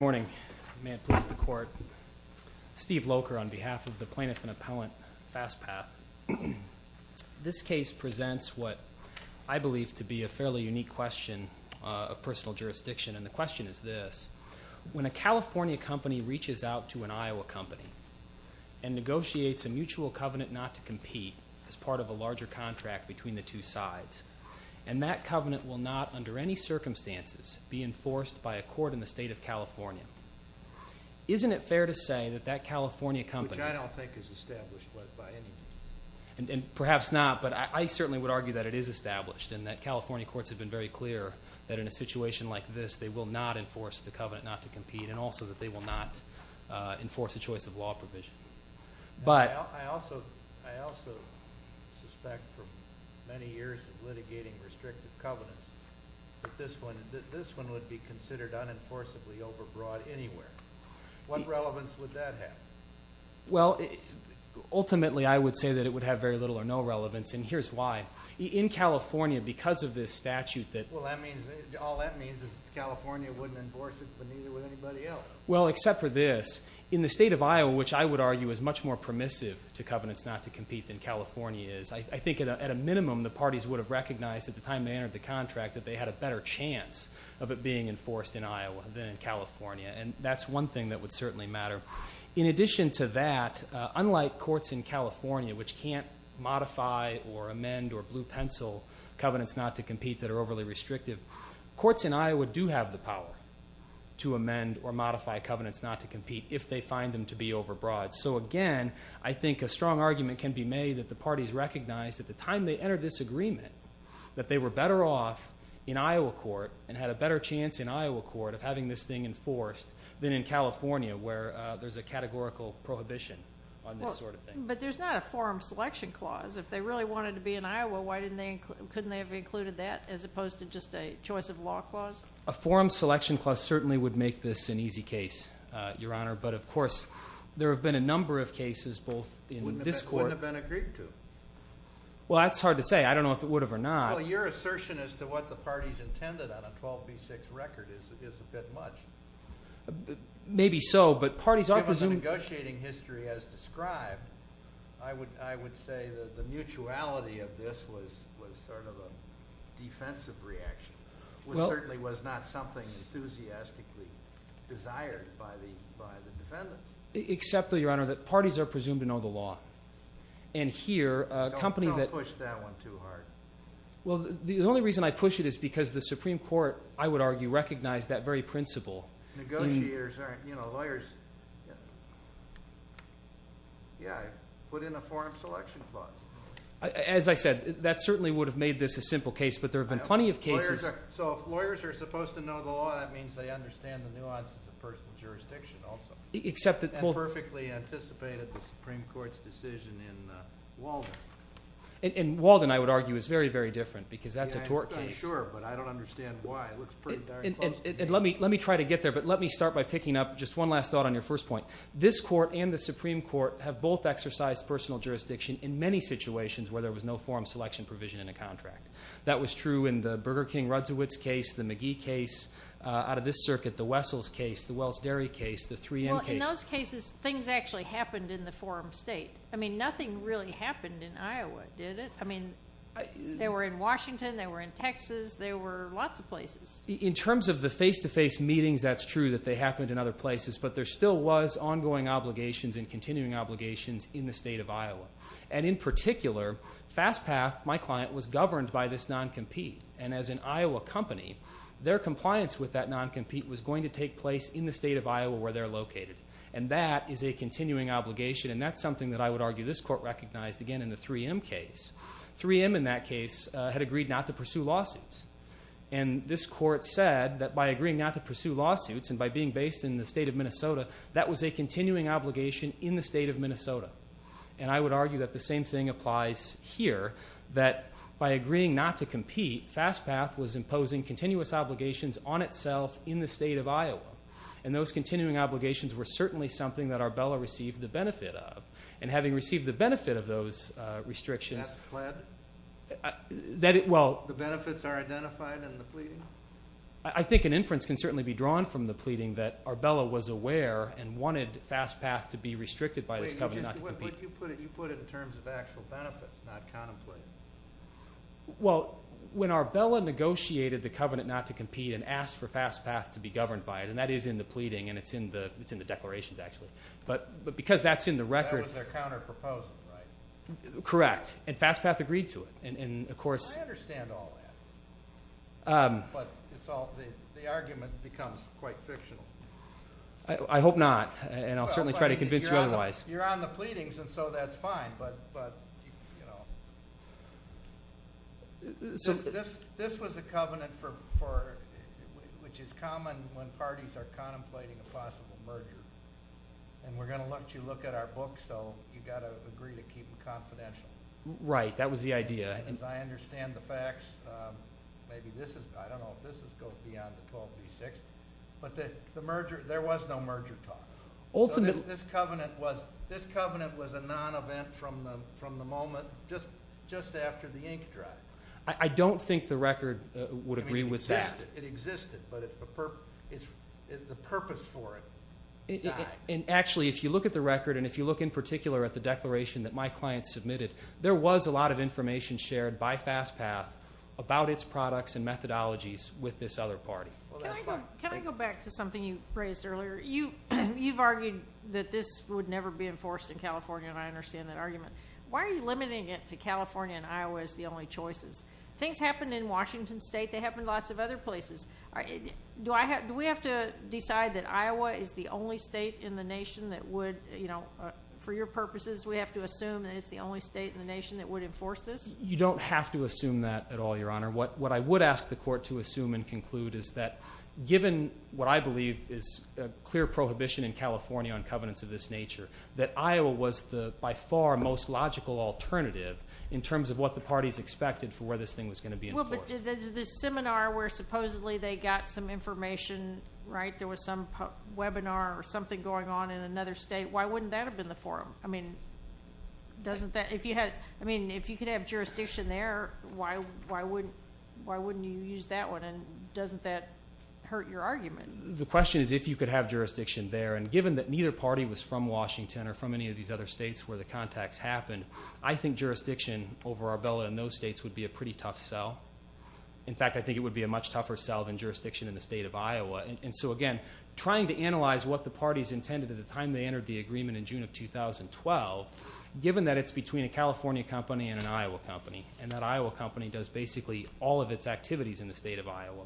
Good morning. May it please the Court. Steve Locher on behalf of the Plaintiff and Appellant FastPath. This case presents what I believe to be a fairly unique question of personal jurisdiction. And the question is this. When a California company reaches out to an Iowa company and negotiates a mutual covenant not to compete as part of a larger contract between the two sides, and that covenant will not, under any circumstances, be enforced by a court in the State of California, isn't it fair to say that that California company... Which I don't think is established by any means. And perhaps not, but I certainly would argue that it is established and that California courts have been very clear that in a situation like this they will not enforce the covenant not to compete and also that they will not enforce a choice of law provision. I also suspect from many years of litigating restrictive covenants that this one would be considered unenforceably overbroad anywhere. What relevance would that have? Well, ultimately I would say that it would have very little or no relevance, and here's why. In California, because of this statute that... Well, all that means is that California wouldn't enforce it, but neither would anybody else. Well, except for this. In the State of Iowa, which I would argue is much more permissive to covenants not to compete than California is, I think at a minimum the parties would have recognized at the time they entered the contract that they had a better chance of it being enforced in Iowa than in California, and that's one thing that would certainly matter. In addition to that, unlike courts in California, which can't modify or amend or blue-pencil covenants not to compete that are overly restrictive, courts in Iowa do have the power to amend or modify covenants not to compete if they find them to be overbroad. So, again, I think a strong argument can be made that the parties recognized at the time they entered this agreement that they were better off in Iowa court and had a better chance in Iowa court of having this thing enforced than in California where there's a categorical prohibition on this sort of thing. But there's not a forum selection clause. If they really wanted to be in Iowa, couldn't they have included that as opposed to just a choice of law clause? A forum selection clause certainly would make this an easy case, Your Honor, but of course there have been a number of cases both in this court. Wouldn't have been agreed to. Well, that's hard to say. I don't know if it would have or not. Well, your assertion as to what the parties intended on a 12B6 record is a bit much. Maybe so, but parties are presumed. From the negotiating history as described, I would say that the mutuality of this was sort of a defensive reaction. It certainly was not something enthusiastically desired by the defendants. Except, though, Your Honor, that parties are presumed to know the law. And here, a company that – Don't push that one too hard. Well, the only reason I push it is because the Supreme Court, I would argue, recognized that very principle. Negotiators aren't lawyers. Yeah, put in a forum selection clause. As I said, that certainly would have made this a simple case, but there have been plenty of cases. So if lawyers are supposed to know the law, that means they understand the nuances of personal jurisdiction also. Except that – And perfectly anticipated the Supreme Court's decision in Walden. In Walden, I would argue, is very, very different because that's a tort case. I'm sure, but I don't understand why. Let me try to get there, but let me start by picking up just one last thought on your first point. This court and the Supreme Court have both exercised personal jurisdiction in many situations where there was no forum selection provision in a contract. That was true in the Burger King-Rudsowitz case, the McGee case. Out of this circuit, the Wessels case, the Wells Dairy case, the 3M case. Well, in those cases, things actually happened in the forum state. I mean, nothing really happened in Iowa, did it? I mean, they were in Washington. They were in Texas. They were lots of places. In terms of the face-to-face meetings, that's true that they happened in other places. But there still was ongoing obligations and continuing obligations in the state of Iowa. And in particular, Fast Path, my client, was governed by this non-compete. And as an Iowa company, their compliance with that non-compete was going to take place in the state of Iowa where they're located. And that is a continuing obligation. And that's something that I would argue this court recognized, again, in the 3M case. 3M in that case had agreed not to pursue lawsuits. And this court said that by agreeing not to pursue lawsuits and by being based in the state of Minnesota, that was a continuing obligation in the state of Minnesota. And I would argue that the same thing applies here, that by agreeing not to compete, Fast Path was imposing continuous obligations on itself in the state of Iowa. And those continuing obligations were certainly something that Arbella received the benefit of. And having received the benefit of those restrictions. That's pled? The benefits are identified in the pleading? I think an inference can certainly be drawn from the pleading that Arbella was aware and wanted Fast Path to be restricted by this covenant not to compete. But you put it in terms of actual benefits, not contemplate. Well, when Arbella negotiated the covenant not to compete and asked for Fast Path to be governed by it, and that is in the pleading and it's in the declarations, actually. But because that's in the record. That was their counterproposal, right? Correct. And Fast Path agreed to it. And, of course. I understand all that. But the argument becomes quite fictional. I hope not. And I'll certainly try to convince you otherwise. You're on the pleadings, and so that's fine. This was a covenant which is common when parties are contemplating a possible merger. And we're going to let you look at our book, so you've got to agree to keep it confidential. Right. That was the idea. As I understand the facts, maybe this is, I don't know if this goes beyond the 12B6, but there was no merger talk. This covenant was a non-event from the moment just after the ink dried. I don't think the record would agree with that. It existed, but the purpose for it died. And, actually, if you look at the record, and if you look in particular at the declaration that my client submitted, there was a lot of information shared by Fast Path about its products and methodologies with this other party. Can I go back to something you raised earlier? You've argued that this would never be enforced in California, and I understand that argument. Why are you limiting it to California and Iowa as the only choices? Things happened in Washington State. They happened in lots of other places. Do we have to decide that Iowa is the only state in the nation that would, for your purposes, we have to assume that it's the only state in the nation that would enforce this? You don't have to assume that at all, Your Honor. What I would ask the Court to assume and conclude is that, given what I believe is a clear prohibition in California on covenants of this nature, that Iowa was by far the most logical alternative in terms of what the parties expected for where this thing was going to be enforced. Well, but there's this seminar where supposedly they got some information, right? There was some webinar or something going on in another state. Why wouldn't that have been the forum? I mean, if you could have jurisdiction there, why wouldn't you use that one? And doesn't that hurt your argument? The question is if you could have jurisdiction there. And given that neither party was from Washington or from any of these other states where the contacts happened, I think jurisdiction over Arbella and those states would be a pretty tough sell. In fact, I think it would be a much tougher sell than jurisdiction in the state of Iowa. And so, again, trying to analyze what the parties intended at the time they entered the agreement in June of 2012, given that it's between a California company and an Iowa company and that Iowa company does basically all of its activities in the state of Iowa,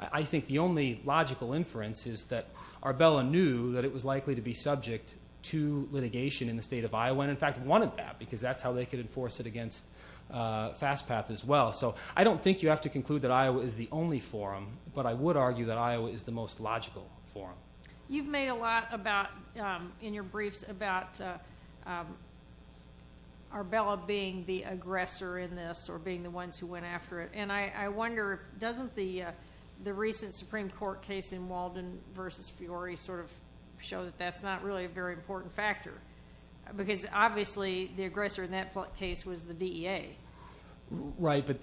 I think the only logical inference is that Arbella knew that it was likely to be subject to litigation in the state of Iowa and, in fact, wanted that because that's how they could enforce it against Fast Path as well. So I don't think you have to conclude that Iowa is the only forum, but I would argue that Iowa is the most logical forum. You've made a lot in your briefs about Arbella being the aggressor in this or being the ones who went after it. And I wonder, doesn't the recent Supreme Court case in Walden v. Fiore sort of show that that's not really a very important factor? Because, obviously, the aggressor in that case was the DEA. Right, but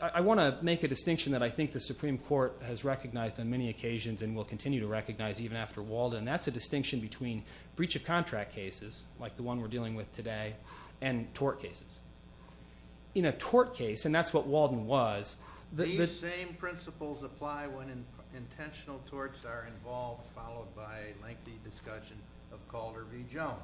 I want to make a distinction that I think the Supreme Court has recognized on many occasions and will continue to recognize even after Walden, and that's a distinction between breach of contract cases, like the one we're dealing with today, and tort cases. In a tort case, and that's what Walden was. These same principles apply when intentional torts are involved, followed by a lengthy discussion of Calder v. Jones.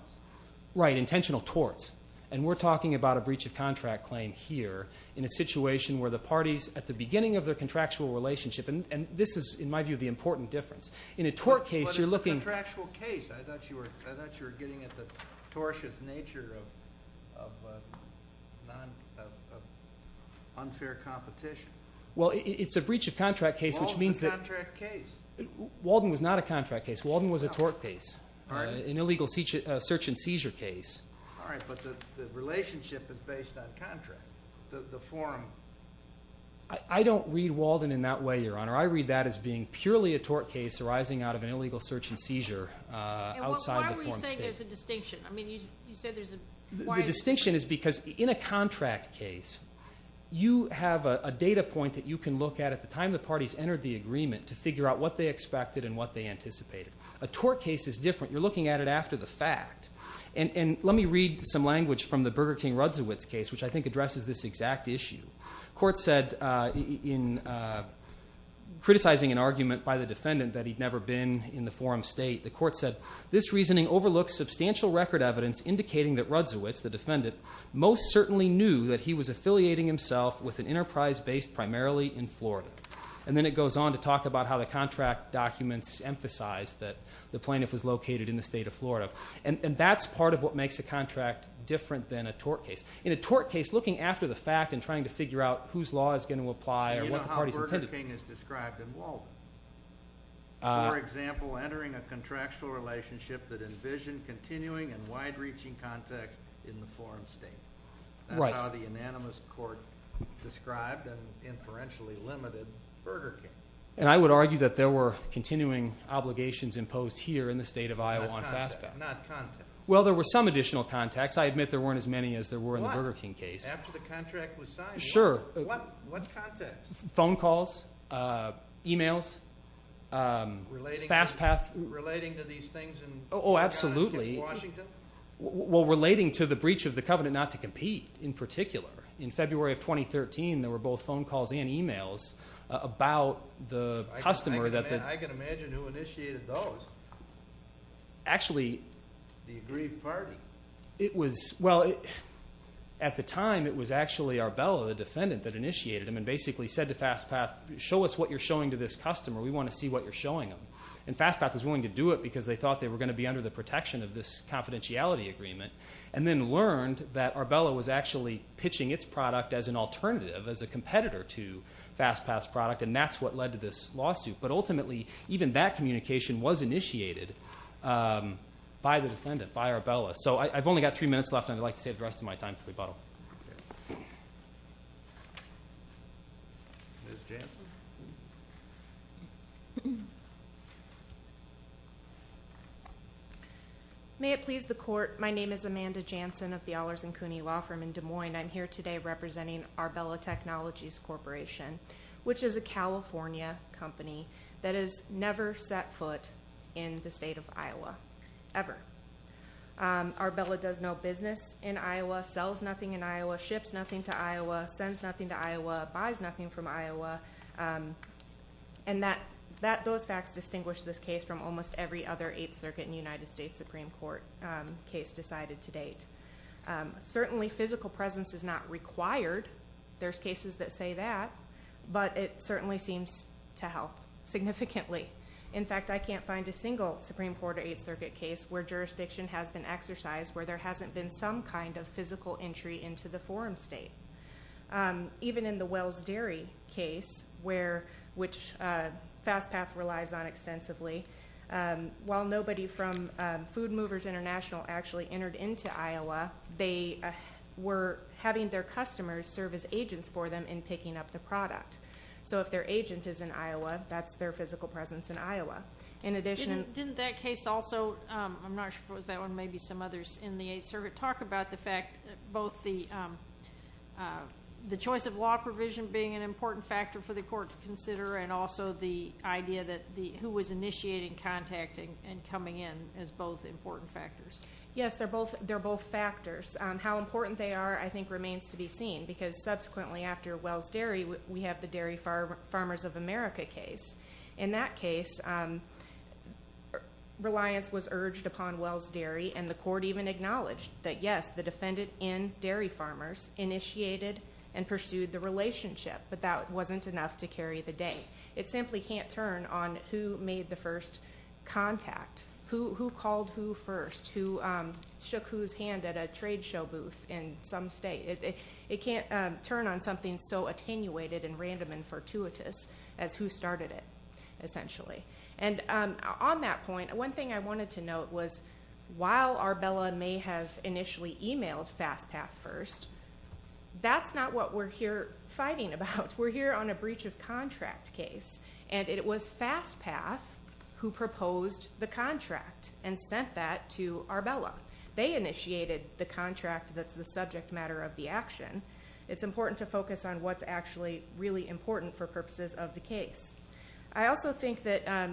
Right, intentional torts. And we're talking about a breach of contract claim here in a situation where the parties, at the beginning of their contractual relationship, and this is, in my view, the important difference. In a tort case, you're looking- But it's a contractual case. I thought you were getting at the tortious nature of unfair competition. Well, it's a breach of contract case, which means that- Walden's a contract case. Walden was not a contract case. Walden was a tort case, an illegal search and seizure case. All right, but the relationship is based on contract. The form- I don't read Walden in that way, Your Honor. I read that as being purely a tort case arising out of an illegal search and seizure outside the form state. And why were you saying there's a distinction? I mean, you said there's a- The distinction is because in a contract case, you have a data point that you can look at at the time the parties entered the agreement to figure out what they expected and what they anticipated. A tort case is different. You're looking at it after the fact. And let me read some language from the Burger King-Rudziewicz case, which I think addresses this exact issue. The court said, in criticizing an argument by the defendant that he'd never been in the form state, the court said, This reasoning overlooks substantial record evidence indicating that Rudziewicz, the defendant, most certainly knew that he was affiliating himself with an enterprise based primarily in Florida. And then it goes on to talk about how the contract documents emphasize that the plaintiff was located in the state of Florida. And that's part of what makes a contract different than a tort case. In a tort case, looking after the fact and trying to figure out whose law is going to apply or what the parties intended- You know how Burger King is described in Walden. For example, entering a contractual relationship that envisioned continuing and wide-reaching context in the form state. That's how the unanimous court described and inferentially limited Burger King. And I would argue that there were continuing obligations imposed here in the state of Iowa on FastPath. Not context. Well, there were some additional context. I admit there weren't as many as there were in the Burger King case. After the contract was signed? Sure. What context? Phone calls, e-mails, FastPath- Relating to these things in Washington? Oh, absolutely. Well, relating to the breach of the covenant not to compete in particular. In February of 2013, there were both phone calls and e-mails about the customer that- I can imagine who initiated those. Actually- The aggrieved party. Well, at the time, it was actually Arbella, the defendant, that initiated them and basically said to FastPath, show us what you're showing to this customer. We want to see what you're showing them. And FastPath was willing to do it because they thought they were going to be under the protection of this confidentiality agreement and then learned that Arbella was actually pitching its product as an alternative, as a competitor to FastPath's product, and that's what led to this lawsuit. But ultimately, even that communication was initiated by the defendant, by Arbella. So I've only got three minutes left, and I'd like to save the rest of my time for rebuttal. Ms. Jansen? May it please the court. My name is Amanda Jansen of the Ahlers & Cooney Law Firm in Des Moines. I'm here today representing Arbella Technologies Corporation, which is a California company that has never set foot in the state of Iowa, ever. Arbella does no business in Iowa, sells nothing in Iowa, ships nothing to Iowa, sends nothing to Iowa, buys nothing from Iowa. And those facts distinguish this case from almost every other Eighth Circuit and United States Supreme Court case decided to date. Certainly, physical presence is not required. There's cases that say that, but it certainly seems to help significantly. In fact, I can't find a single Supreme Court or Eighth Circuit case where jurisdiction has been exercised, where there hasn't been some kind of physical entry into the forum state. Even in the Wells Dairy case, which FastPath relies on extensively, while nobody from Food Movers International actually entered into Iowa, they were having their customers serve as agents for them in picking up the product. So if their agent is in Iowa, that's their physical presence in Iowa. In addition- Didn't that case also, I'm not sure if it was that one, maybe some others in the Eighth Circuit, talk about the fact that both the choice of law provision being an important factor for the court to consider and also the idea that who was initiating contacting and coming in as both important factors? Yes, they're both factors. How important they are, I think, remains to be seen, because subsequently after Wells Dairy, we have the Dairy Farmers of America case. In that case, reliance was urged upon Wells Dairy, and the court even acknowledged that, yes, the defendant in Dairy Farmers initiated and pursued the relationship, but that wasn't enough to carry the date. It simply can't turn on who made the first contact, who called who first, who shook whose hand at a trade show booth in some state. It can't turn on something so attenuated and random and fortuitous as who started it, essentially. And on that point, one thing I wanted to note was while Arbella may have initially emailed FastPath first, that's not what we're here fighting about. We're here on a breach of contract case, and it was FastPath who proposed the contract and sent that to Arbella. They initiated the contract that's the subject matter of the action. It's important to focus on what's actually really important for purposes of the case. I also think that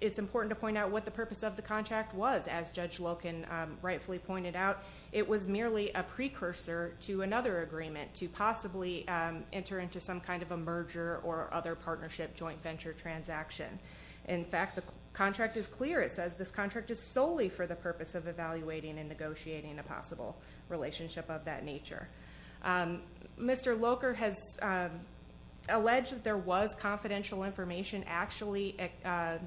it's important to point out what the purpose of the contract was. As Judge Loken rightfully pointed out, it was merely a precursor to another agreement to possibly enter into some kind of a merger or other partnership joint venture transaction. In fact, the contract is clear. It says this contract is solely for the purpose of evaluating and negotiating a possible relationship of that nature. Mr. Loker has alleged that there was confidential information actually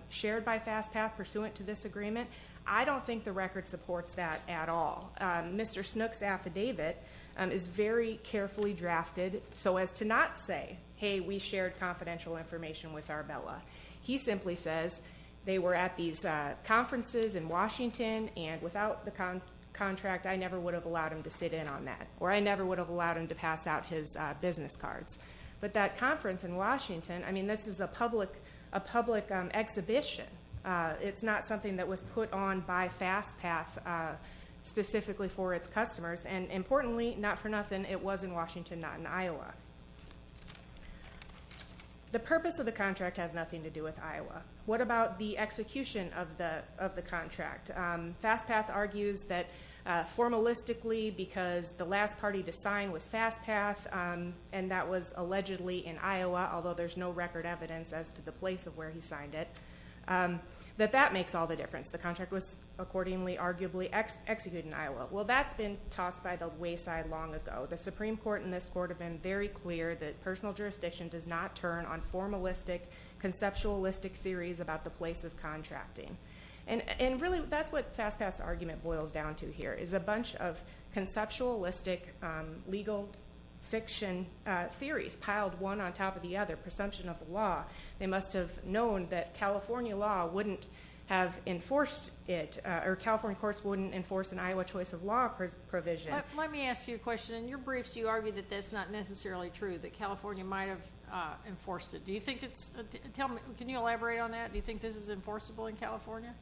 shared by FastPath pursuant to this agreement. I don't think the record supports that at all. Mr. Snook's affidavit is very carefully drafted so as to not say, hey, we shared confidential information with Arbella. He simply says they were at these conferences in Washington, and without the contract, I never would have allowed him to sit in on that, or I never would have allowed him to pass out his business cards. But that conference in Washington, I mean, this is a public exhibition. It's not something that was put on by FastPath specifically for its customers. And importantly, not for nothing, it was in Washington, not in Iowa. The purpose of the contract has nothing to do with Iowa. What about the execution of the contract? FastPath argues that formalistically, because the last party to sign was FastPath, and that was allegedly in Iowa, although there's no record evidence as to the place of where he signed it, that that makes all the difference. The contract was accordingly, arguably executed in Iowa. Well, that's been tossed by the wayside long ago. The Supreme Court and this court have been very clear that personal jurisdiction does not turn on formalistic, conceptualistic theories about the place of contracting. And really, that's what FastPath's argument boils down to here, is a bunch of conceptualistic legal fiction theories piled one on top of the other, presumption of the law. They must have known that California law wouldn't have enforced it, or California courts wouldn't enforce an Iowa choice of law provision. Let me ask you a question. In your briefs, you argue that that's not necessarily true, that California might have enforced it. Can you elaborate on that? Do you think this is enforceable in California?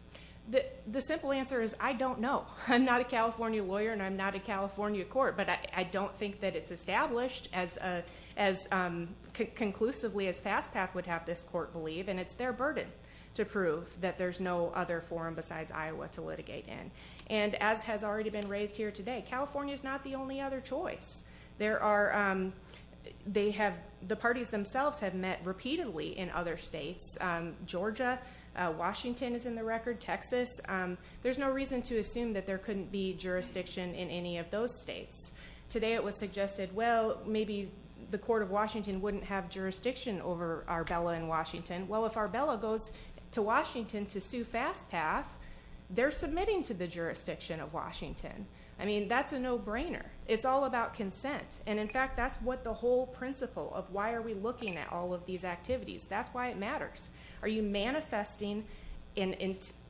The simple answer is I don't know. I'm not a California lawyer, and I'm not a California court, but I don't think that it's established as conclusively as FastPath would have this court believe, and it's their burden to prove that there's no other forum besides Iowa to litigate in. And as has already been raised here today, California is not the only other choice. The parties themselves have met repeatedly in other states. Georgia, Washington is in the record, Texas. There's no reason to assume that there couldn't be jurisdiction in any of those states. Today it was suggested, well, maybe the court of Washington wouldn't have jurisdiction over Arbella and Washington. Well, if Arbella goes to Washington to sue FastPath, they're submitting to the jurisdiction of Washington. I mean, that's a no-brainer. It's all about consent. And, in fact, that's what the whole principle of why are we looking at all of these activities. That's why it matters. Are you manifesting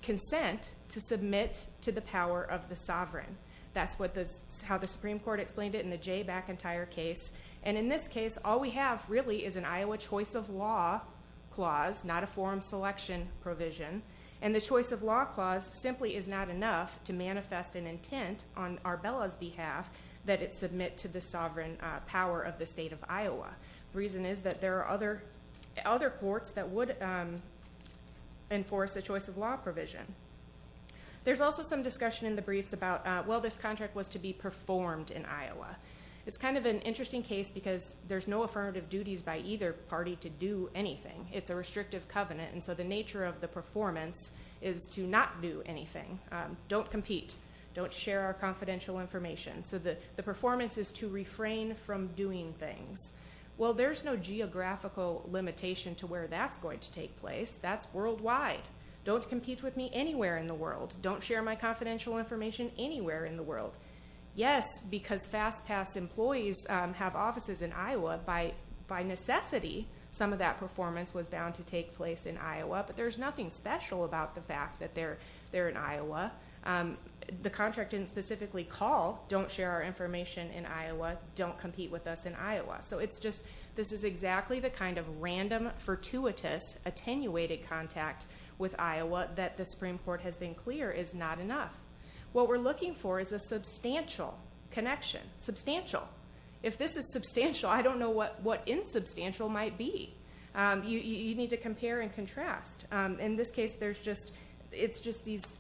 consent to submit to the power of the sovereign? That's how the Supreme Court explained it in the Jay McIntyre case. And, in this case, all we have really is an Iowa choice of law clause, not a forum selection provision. And the choice of law clause simply is not enough to manifest an intent on Arbella's behalf that it submit to the sovereign power of the state of Iowa. The reason is that there are other courts that would enforce a choice of law provision. There's also some discussion in the briefs about, well, this contract was to be performed in Iowa. It's kind of an interesting case because there's no affirmative duties by either party to do anything. It's a restrictive covenant. And so the nature of the performance is to not do anything. Don't compete. Don't share our confidential information. So the performance is to refrain from doing things. Well, there's no geographical limitation to where that's going to take place. That's worldwide. Don't compete with me anywhere in the world. Don't share my confidential information anywhere in the world. Yes, because FastPass employees have offices in Iowa. By necessity, some of that performance was bound to take place in Iowa. But there's nothing special about the fact that they're in Iowa. The contract didn't specifically call, don't share our information in Iowa. Don't compete with us in Iowa. So it's just this is exactly the kind of random, fortuitous, attenuated contact with Iowa that the Supreme Court has been clear is not enough. What we're looking for is a substantial connection. Substantial. If this is substantial, I don't know what insubstantial might be. You need to compare and contrast. In this case, it's just these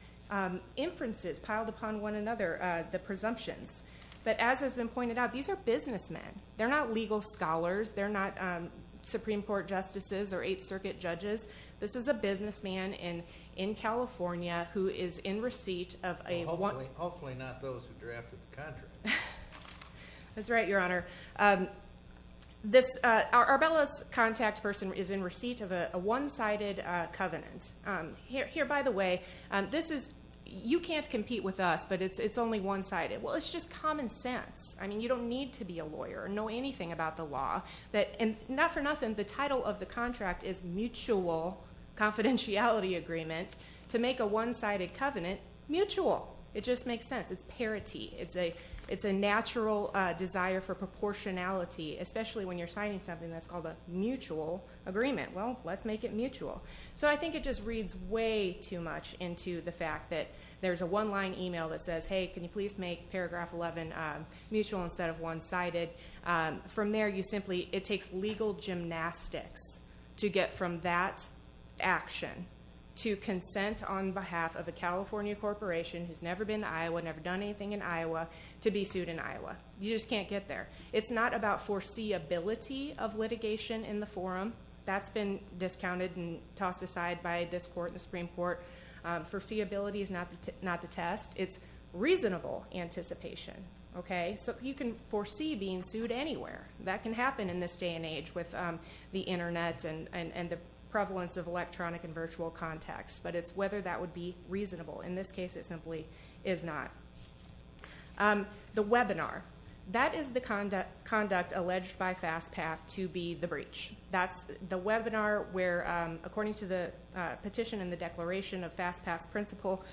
inferences piled upon one another, the presumptions. But as has been pointed out, these are businessmen. They're not legal scholars. They're not Supreme Court justices or Eighth Circuit judges. This is a businessman in California who is in receipt of a one- Hopefully not those who drafted the contract. That's right, Your Honor. Arbella's contact person is in receipt of a one-sided covenant. Here, by the way, this is you can't compete with us, but it's only one-sided. Well, it's just common sense. I mean, you don't need to be a lawyer or know anything about the law. Not for nothing, the title of the contract is Mutual Confidentiality Agreement. To make a one-sided covenant mutual. It just makes sense. It's parity. It's a natural desire for proportionality, especially when you're signing something that's called a mutual agreement. Well, let's make it mutual. So I think it just reads way too much into the fact that there's a one-line email that says, Hey, can you please make Paragraph 11 mutual instead of one-sided? From there, it takes legal gymnastics to get from that action to consent on behalf of a California corporation, who's never been to Iowa, never done anything in Iowa, to be sued in Iowa. You just can't get there. It's not about foreseeability of litigation in the forum. That's been discounted and tossed aside by this court and the Supreme Court. Foreseeability is not the test. It's reasonable anticipation. Okay? So you can foresee being sued anywhere. That can happen in this day and age with the Internet and the prevalence of electronic and virtual contacts. But it's whether that would be reasonable. In this case, it simply is not. The webinar. That is the conduct alleged by FastPath to be the breach. That's the webinar where, according to the petition and the declaration of FastPath's principle,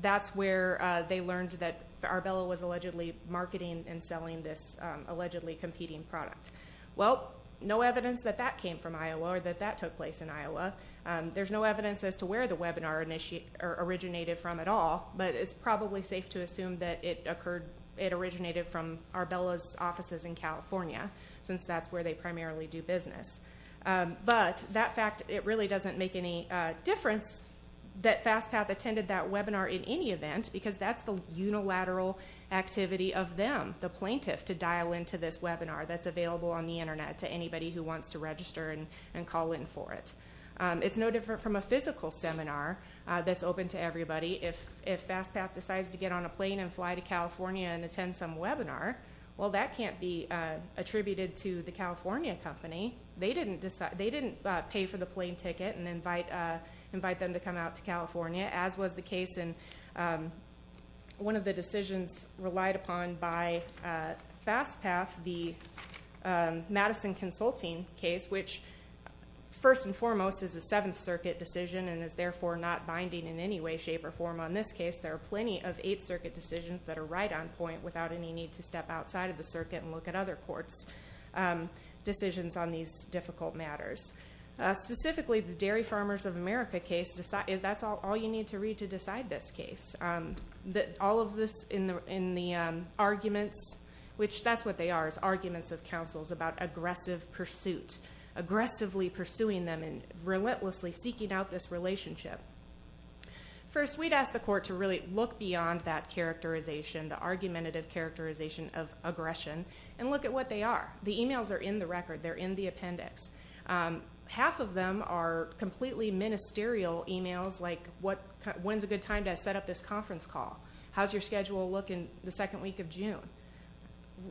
that's where they learned that Arbella was allegedly marketing and selling this allegedly competing product. Well, no evidence that that came from Iowa or that that took place in Iowa. There's no evidence as to where the webinar originated from at all, but it's probably safe to assume that it originated from Arbella's offices in California, since that's where they primarily do business. But that fact, it really doesn't make any difference that FastPath attended that webinar in any event, because that's the unilateral activity of them, the plaintiff, to dial into this webinar that's available on the Internet to anybody who wants to register and call in for it. It's no different from a physical seminar that's open to everybody. If FastPath decides to get on a plane and fly to California and attend some webinar, well, that can't be attributed to the California company. They didn't pay for the plane ticket and invite them to come out to California, as was the case in one of the decisions relied upon by FastPath, the Madison Consulting case, which first and foremost is a Seventh Circuit decision and is therefore not binding in any way, shape, or form on this case. There are plenty of Eighth Circuit decisions that are right on point without any need to step outside of the circuit and look at other courts' decisions on these difficult matters. Specifically, the Dairy Farmers of America case, that's all you need to read to decide this case. All of this in the arguments, which that's what they are, is arguments of counsels about aggressive pursuit, aggressively pursuing them and relentlessly seeking out this relationship. First, we'd ask the court to really look beyond that characterization, the argumentative characterization of aggression, and look at what they are. The e-mails are in the record. They're in the appendix. Half of them are completely ministerial e-mails like, when's a good time to set up this conference call? How's your schedule look in the second week of June?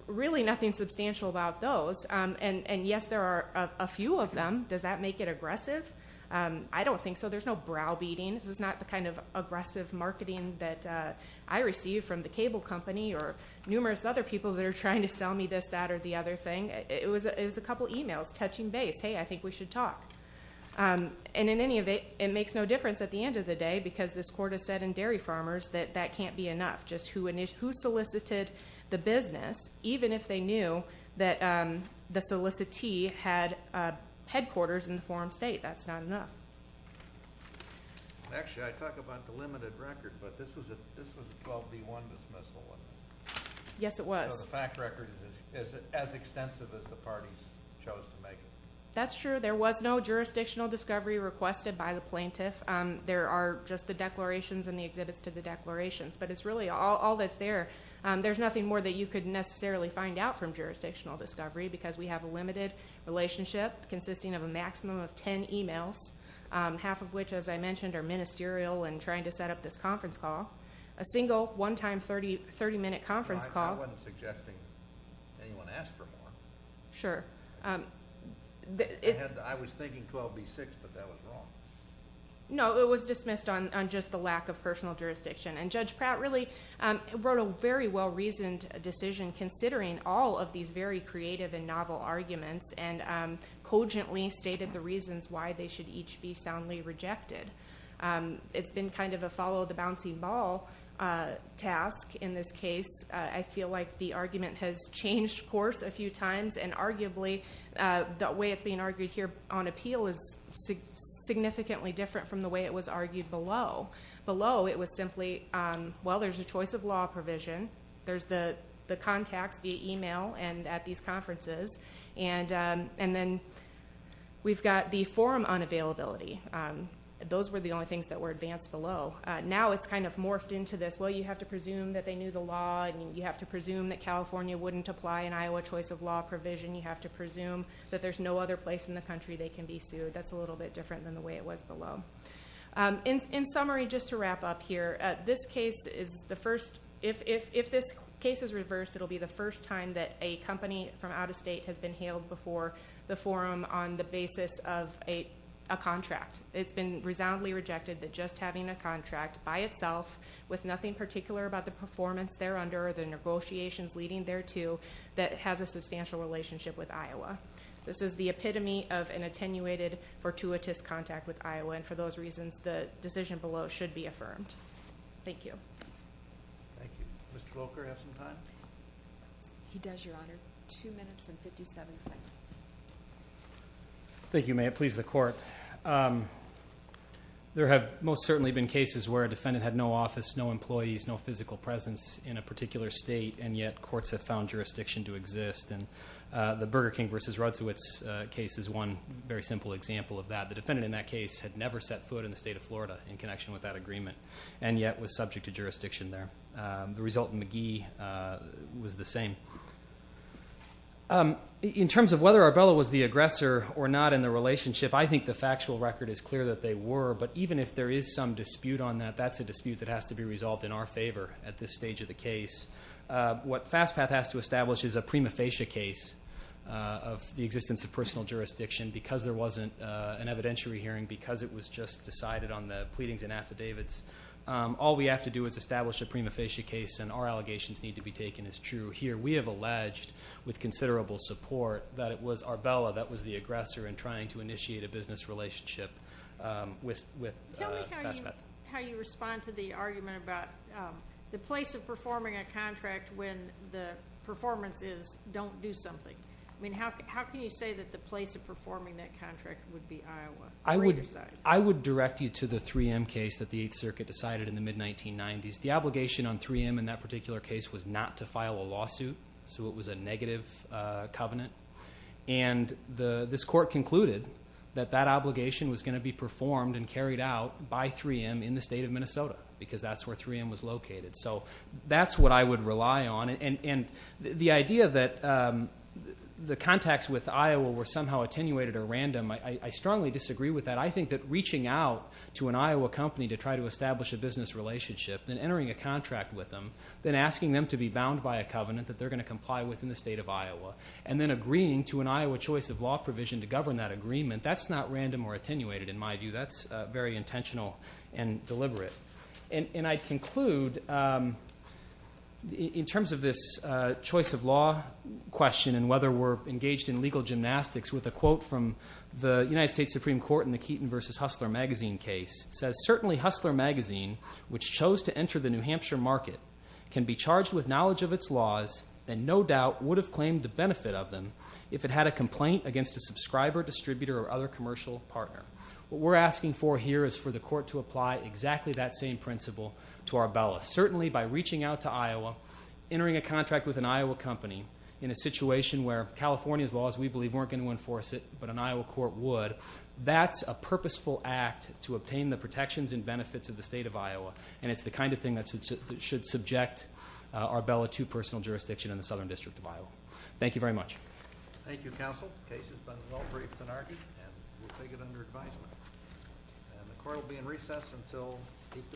Really nothing substantial about those, and yes, there are a few of them. Does that make it aggressive? I don't think so. There's no browbeating. This is not the kind of aggressive marketing that I receive from the cable company or numerous other people that are trying to sell me this, that, or the other thing. It was a couple e-mails touching base, hey, I think we should talk. And in any event, it makes no difference at the end of the day because this court has said in Dairy Farmers that that can't be enough. Just who solicited the business, even if they knew that the solicitee had headquarters in the forum state, that's not enough. Actually, I talk about the limited record, but this was a 12-D1 dismissal. Yes, it was. So the fact record is as extensive as the parties chose to make it. That's true. There was no jurisdictional discovery requested by the plaintiff. There are just the declarations and the exhibits to the declarations, but it's really all that's there. There's nothing more that you could necessarily find out from jurisdictional discovery because we have a limited relationship consisting of a maximum of 10 e-mails, half of which, as I mentioned, are ministerial and trying to set up this conference call. A single one-time 30-minute conference call. I wasn't suggesting anyone ask for more. Sure. I was thinking 12-B6, but that was wrong. No, it was dismissed on just the lack of personal jurisdiction, and Judge Pratt really wrote a very well-reasoned decision considering all of these very creative and novel arguments and cogently stated the reasons why they should each be soundly rejected. It's been kind of a follow-the-bouncing-ball task in this case. I feel like the argument has changed course a few times, and arguably the way it's being argued here on appeal is significantly different from the way it was argued below. Below it was simply, well, there's a choice of law provision. There's the contacts via e-mail and at these conferences. And then we've got the forum unavailability. Those were the only things that were advanced below. Now it's kind of morphed into this, well, you have to presume that they knew the law and you have to presume that California wouldn't apply an Iowa choice of law provision. You have to presume that there's no other place in the country they can be sued. That's a little bit different than the way it was below. In summary, just to wrap up here, if this case is reversed, it will be the first time that a company from out of state has been hailed before the forum on the basis of a contract. It's been resoundingly rejected that just having a contract by itself with nothing particular about the performance there under or the negotiations leading there to that has a substantial relationship with Iowa. This is the epitome of an attenuated, fortuitous contact with Iowa, and for those reasons the decision below should be affirmed. Thank you. Thank you. Mr. Volker, do you have some time? He does, Your Honor. Two minutes and 57 seconds. Thank you. May it please the Court. There have most certainly been cases where a defendant had no office, no employees, no physical presence in a particular state, and yet courts have found jurisdiction to exist, and the Burger King v. Rudowitz case is one very simple example of that. The defendant in that case had never set foot in the state of Florida in connection with that agreement and yet was subject to jurisdiction there. The result in McGee was the same. In terms of whether Arbella was the aggressor or not in the relationship, I think the factual record is clear that they were, but even if there is some dispute on that, that's a dispute that has to be resolved in our favor at this stage of the case. What FASTPATH has to establish is a prima facie case of the existence of personal jurisdiction because there wasn't an evidentiary hearing, because it was just decided on the pleadings and affidavits. All we have to do is establish a prima facie case, and our allegations need to be taken as true. Here we have alleged, with considerable support, that it was Arbella that was the aggressor in trying to initiate a business relationship with FASTPATH. Tell me how you respond to the argument about the place of performing a contract when the performance is don't do something. I mean, how can you say that the place of performing that contract would be Iowa? I would direct you to the 3M case that the Eighth Circuit decided in the mid-1990s. The obligation on 3M in that particular case was not to file a lawsuit, so it was a negative covenant. And this court concluded that that obligation was going to be performed and carried out by 3M in the state of Minnesota because that's where 3M was located. So that's what I would rely on. And the idea that the contacts with Iowa were somehow attenuated or random, I strongly disagree with that. I think that reaching out to an Iowa company to try to establish a business relationship, then entering a contract with them, then asking them to be bound by a covenant that they're going to comply with in the state of Iowa, and then agreeing to an Iowa choice of law provision to govern that agreement, that's not random or attenuated in my view. That's very intentional and deliberate. And I conclude in terms of this choice of law question and whether we're engaged in legal gymnastics with a quote from the United States Supreme Court in the Keaton v. Hustler magazine case. It says, certainly Hustler magazine, which chose to enter the New Hampshire market, can be charged with knowledge of its laws and no doubt would have claimed the benefit of them if it had a complaint against a subscriber, distributor, or other commercial partner. What we're asking for here is for the court to apply exactly that same principle to our bellis. Certainly by reaching out to Iowa, entering a contract with an Iowa company in a situation where California's laws, we believe, weren't going to enforce it, but an Iowa court would, that's a purposeful act to obtain the protections and benefits of the state of Iowa, and it's the kind of thing that should subject our bella to personal jurisdiction in the Southern District of Iowa. Thank you very much. Thank you, Counsel. The case has been well-briefed and argued, and we'll take it under advisement. And the court will be in recess until 8 p.m.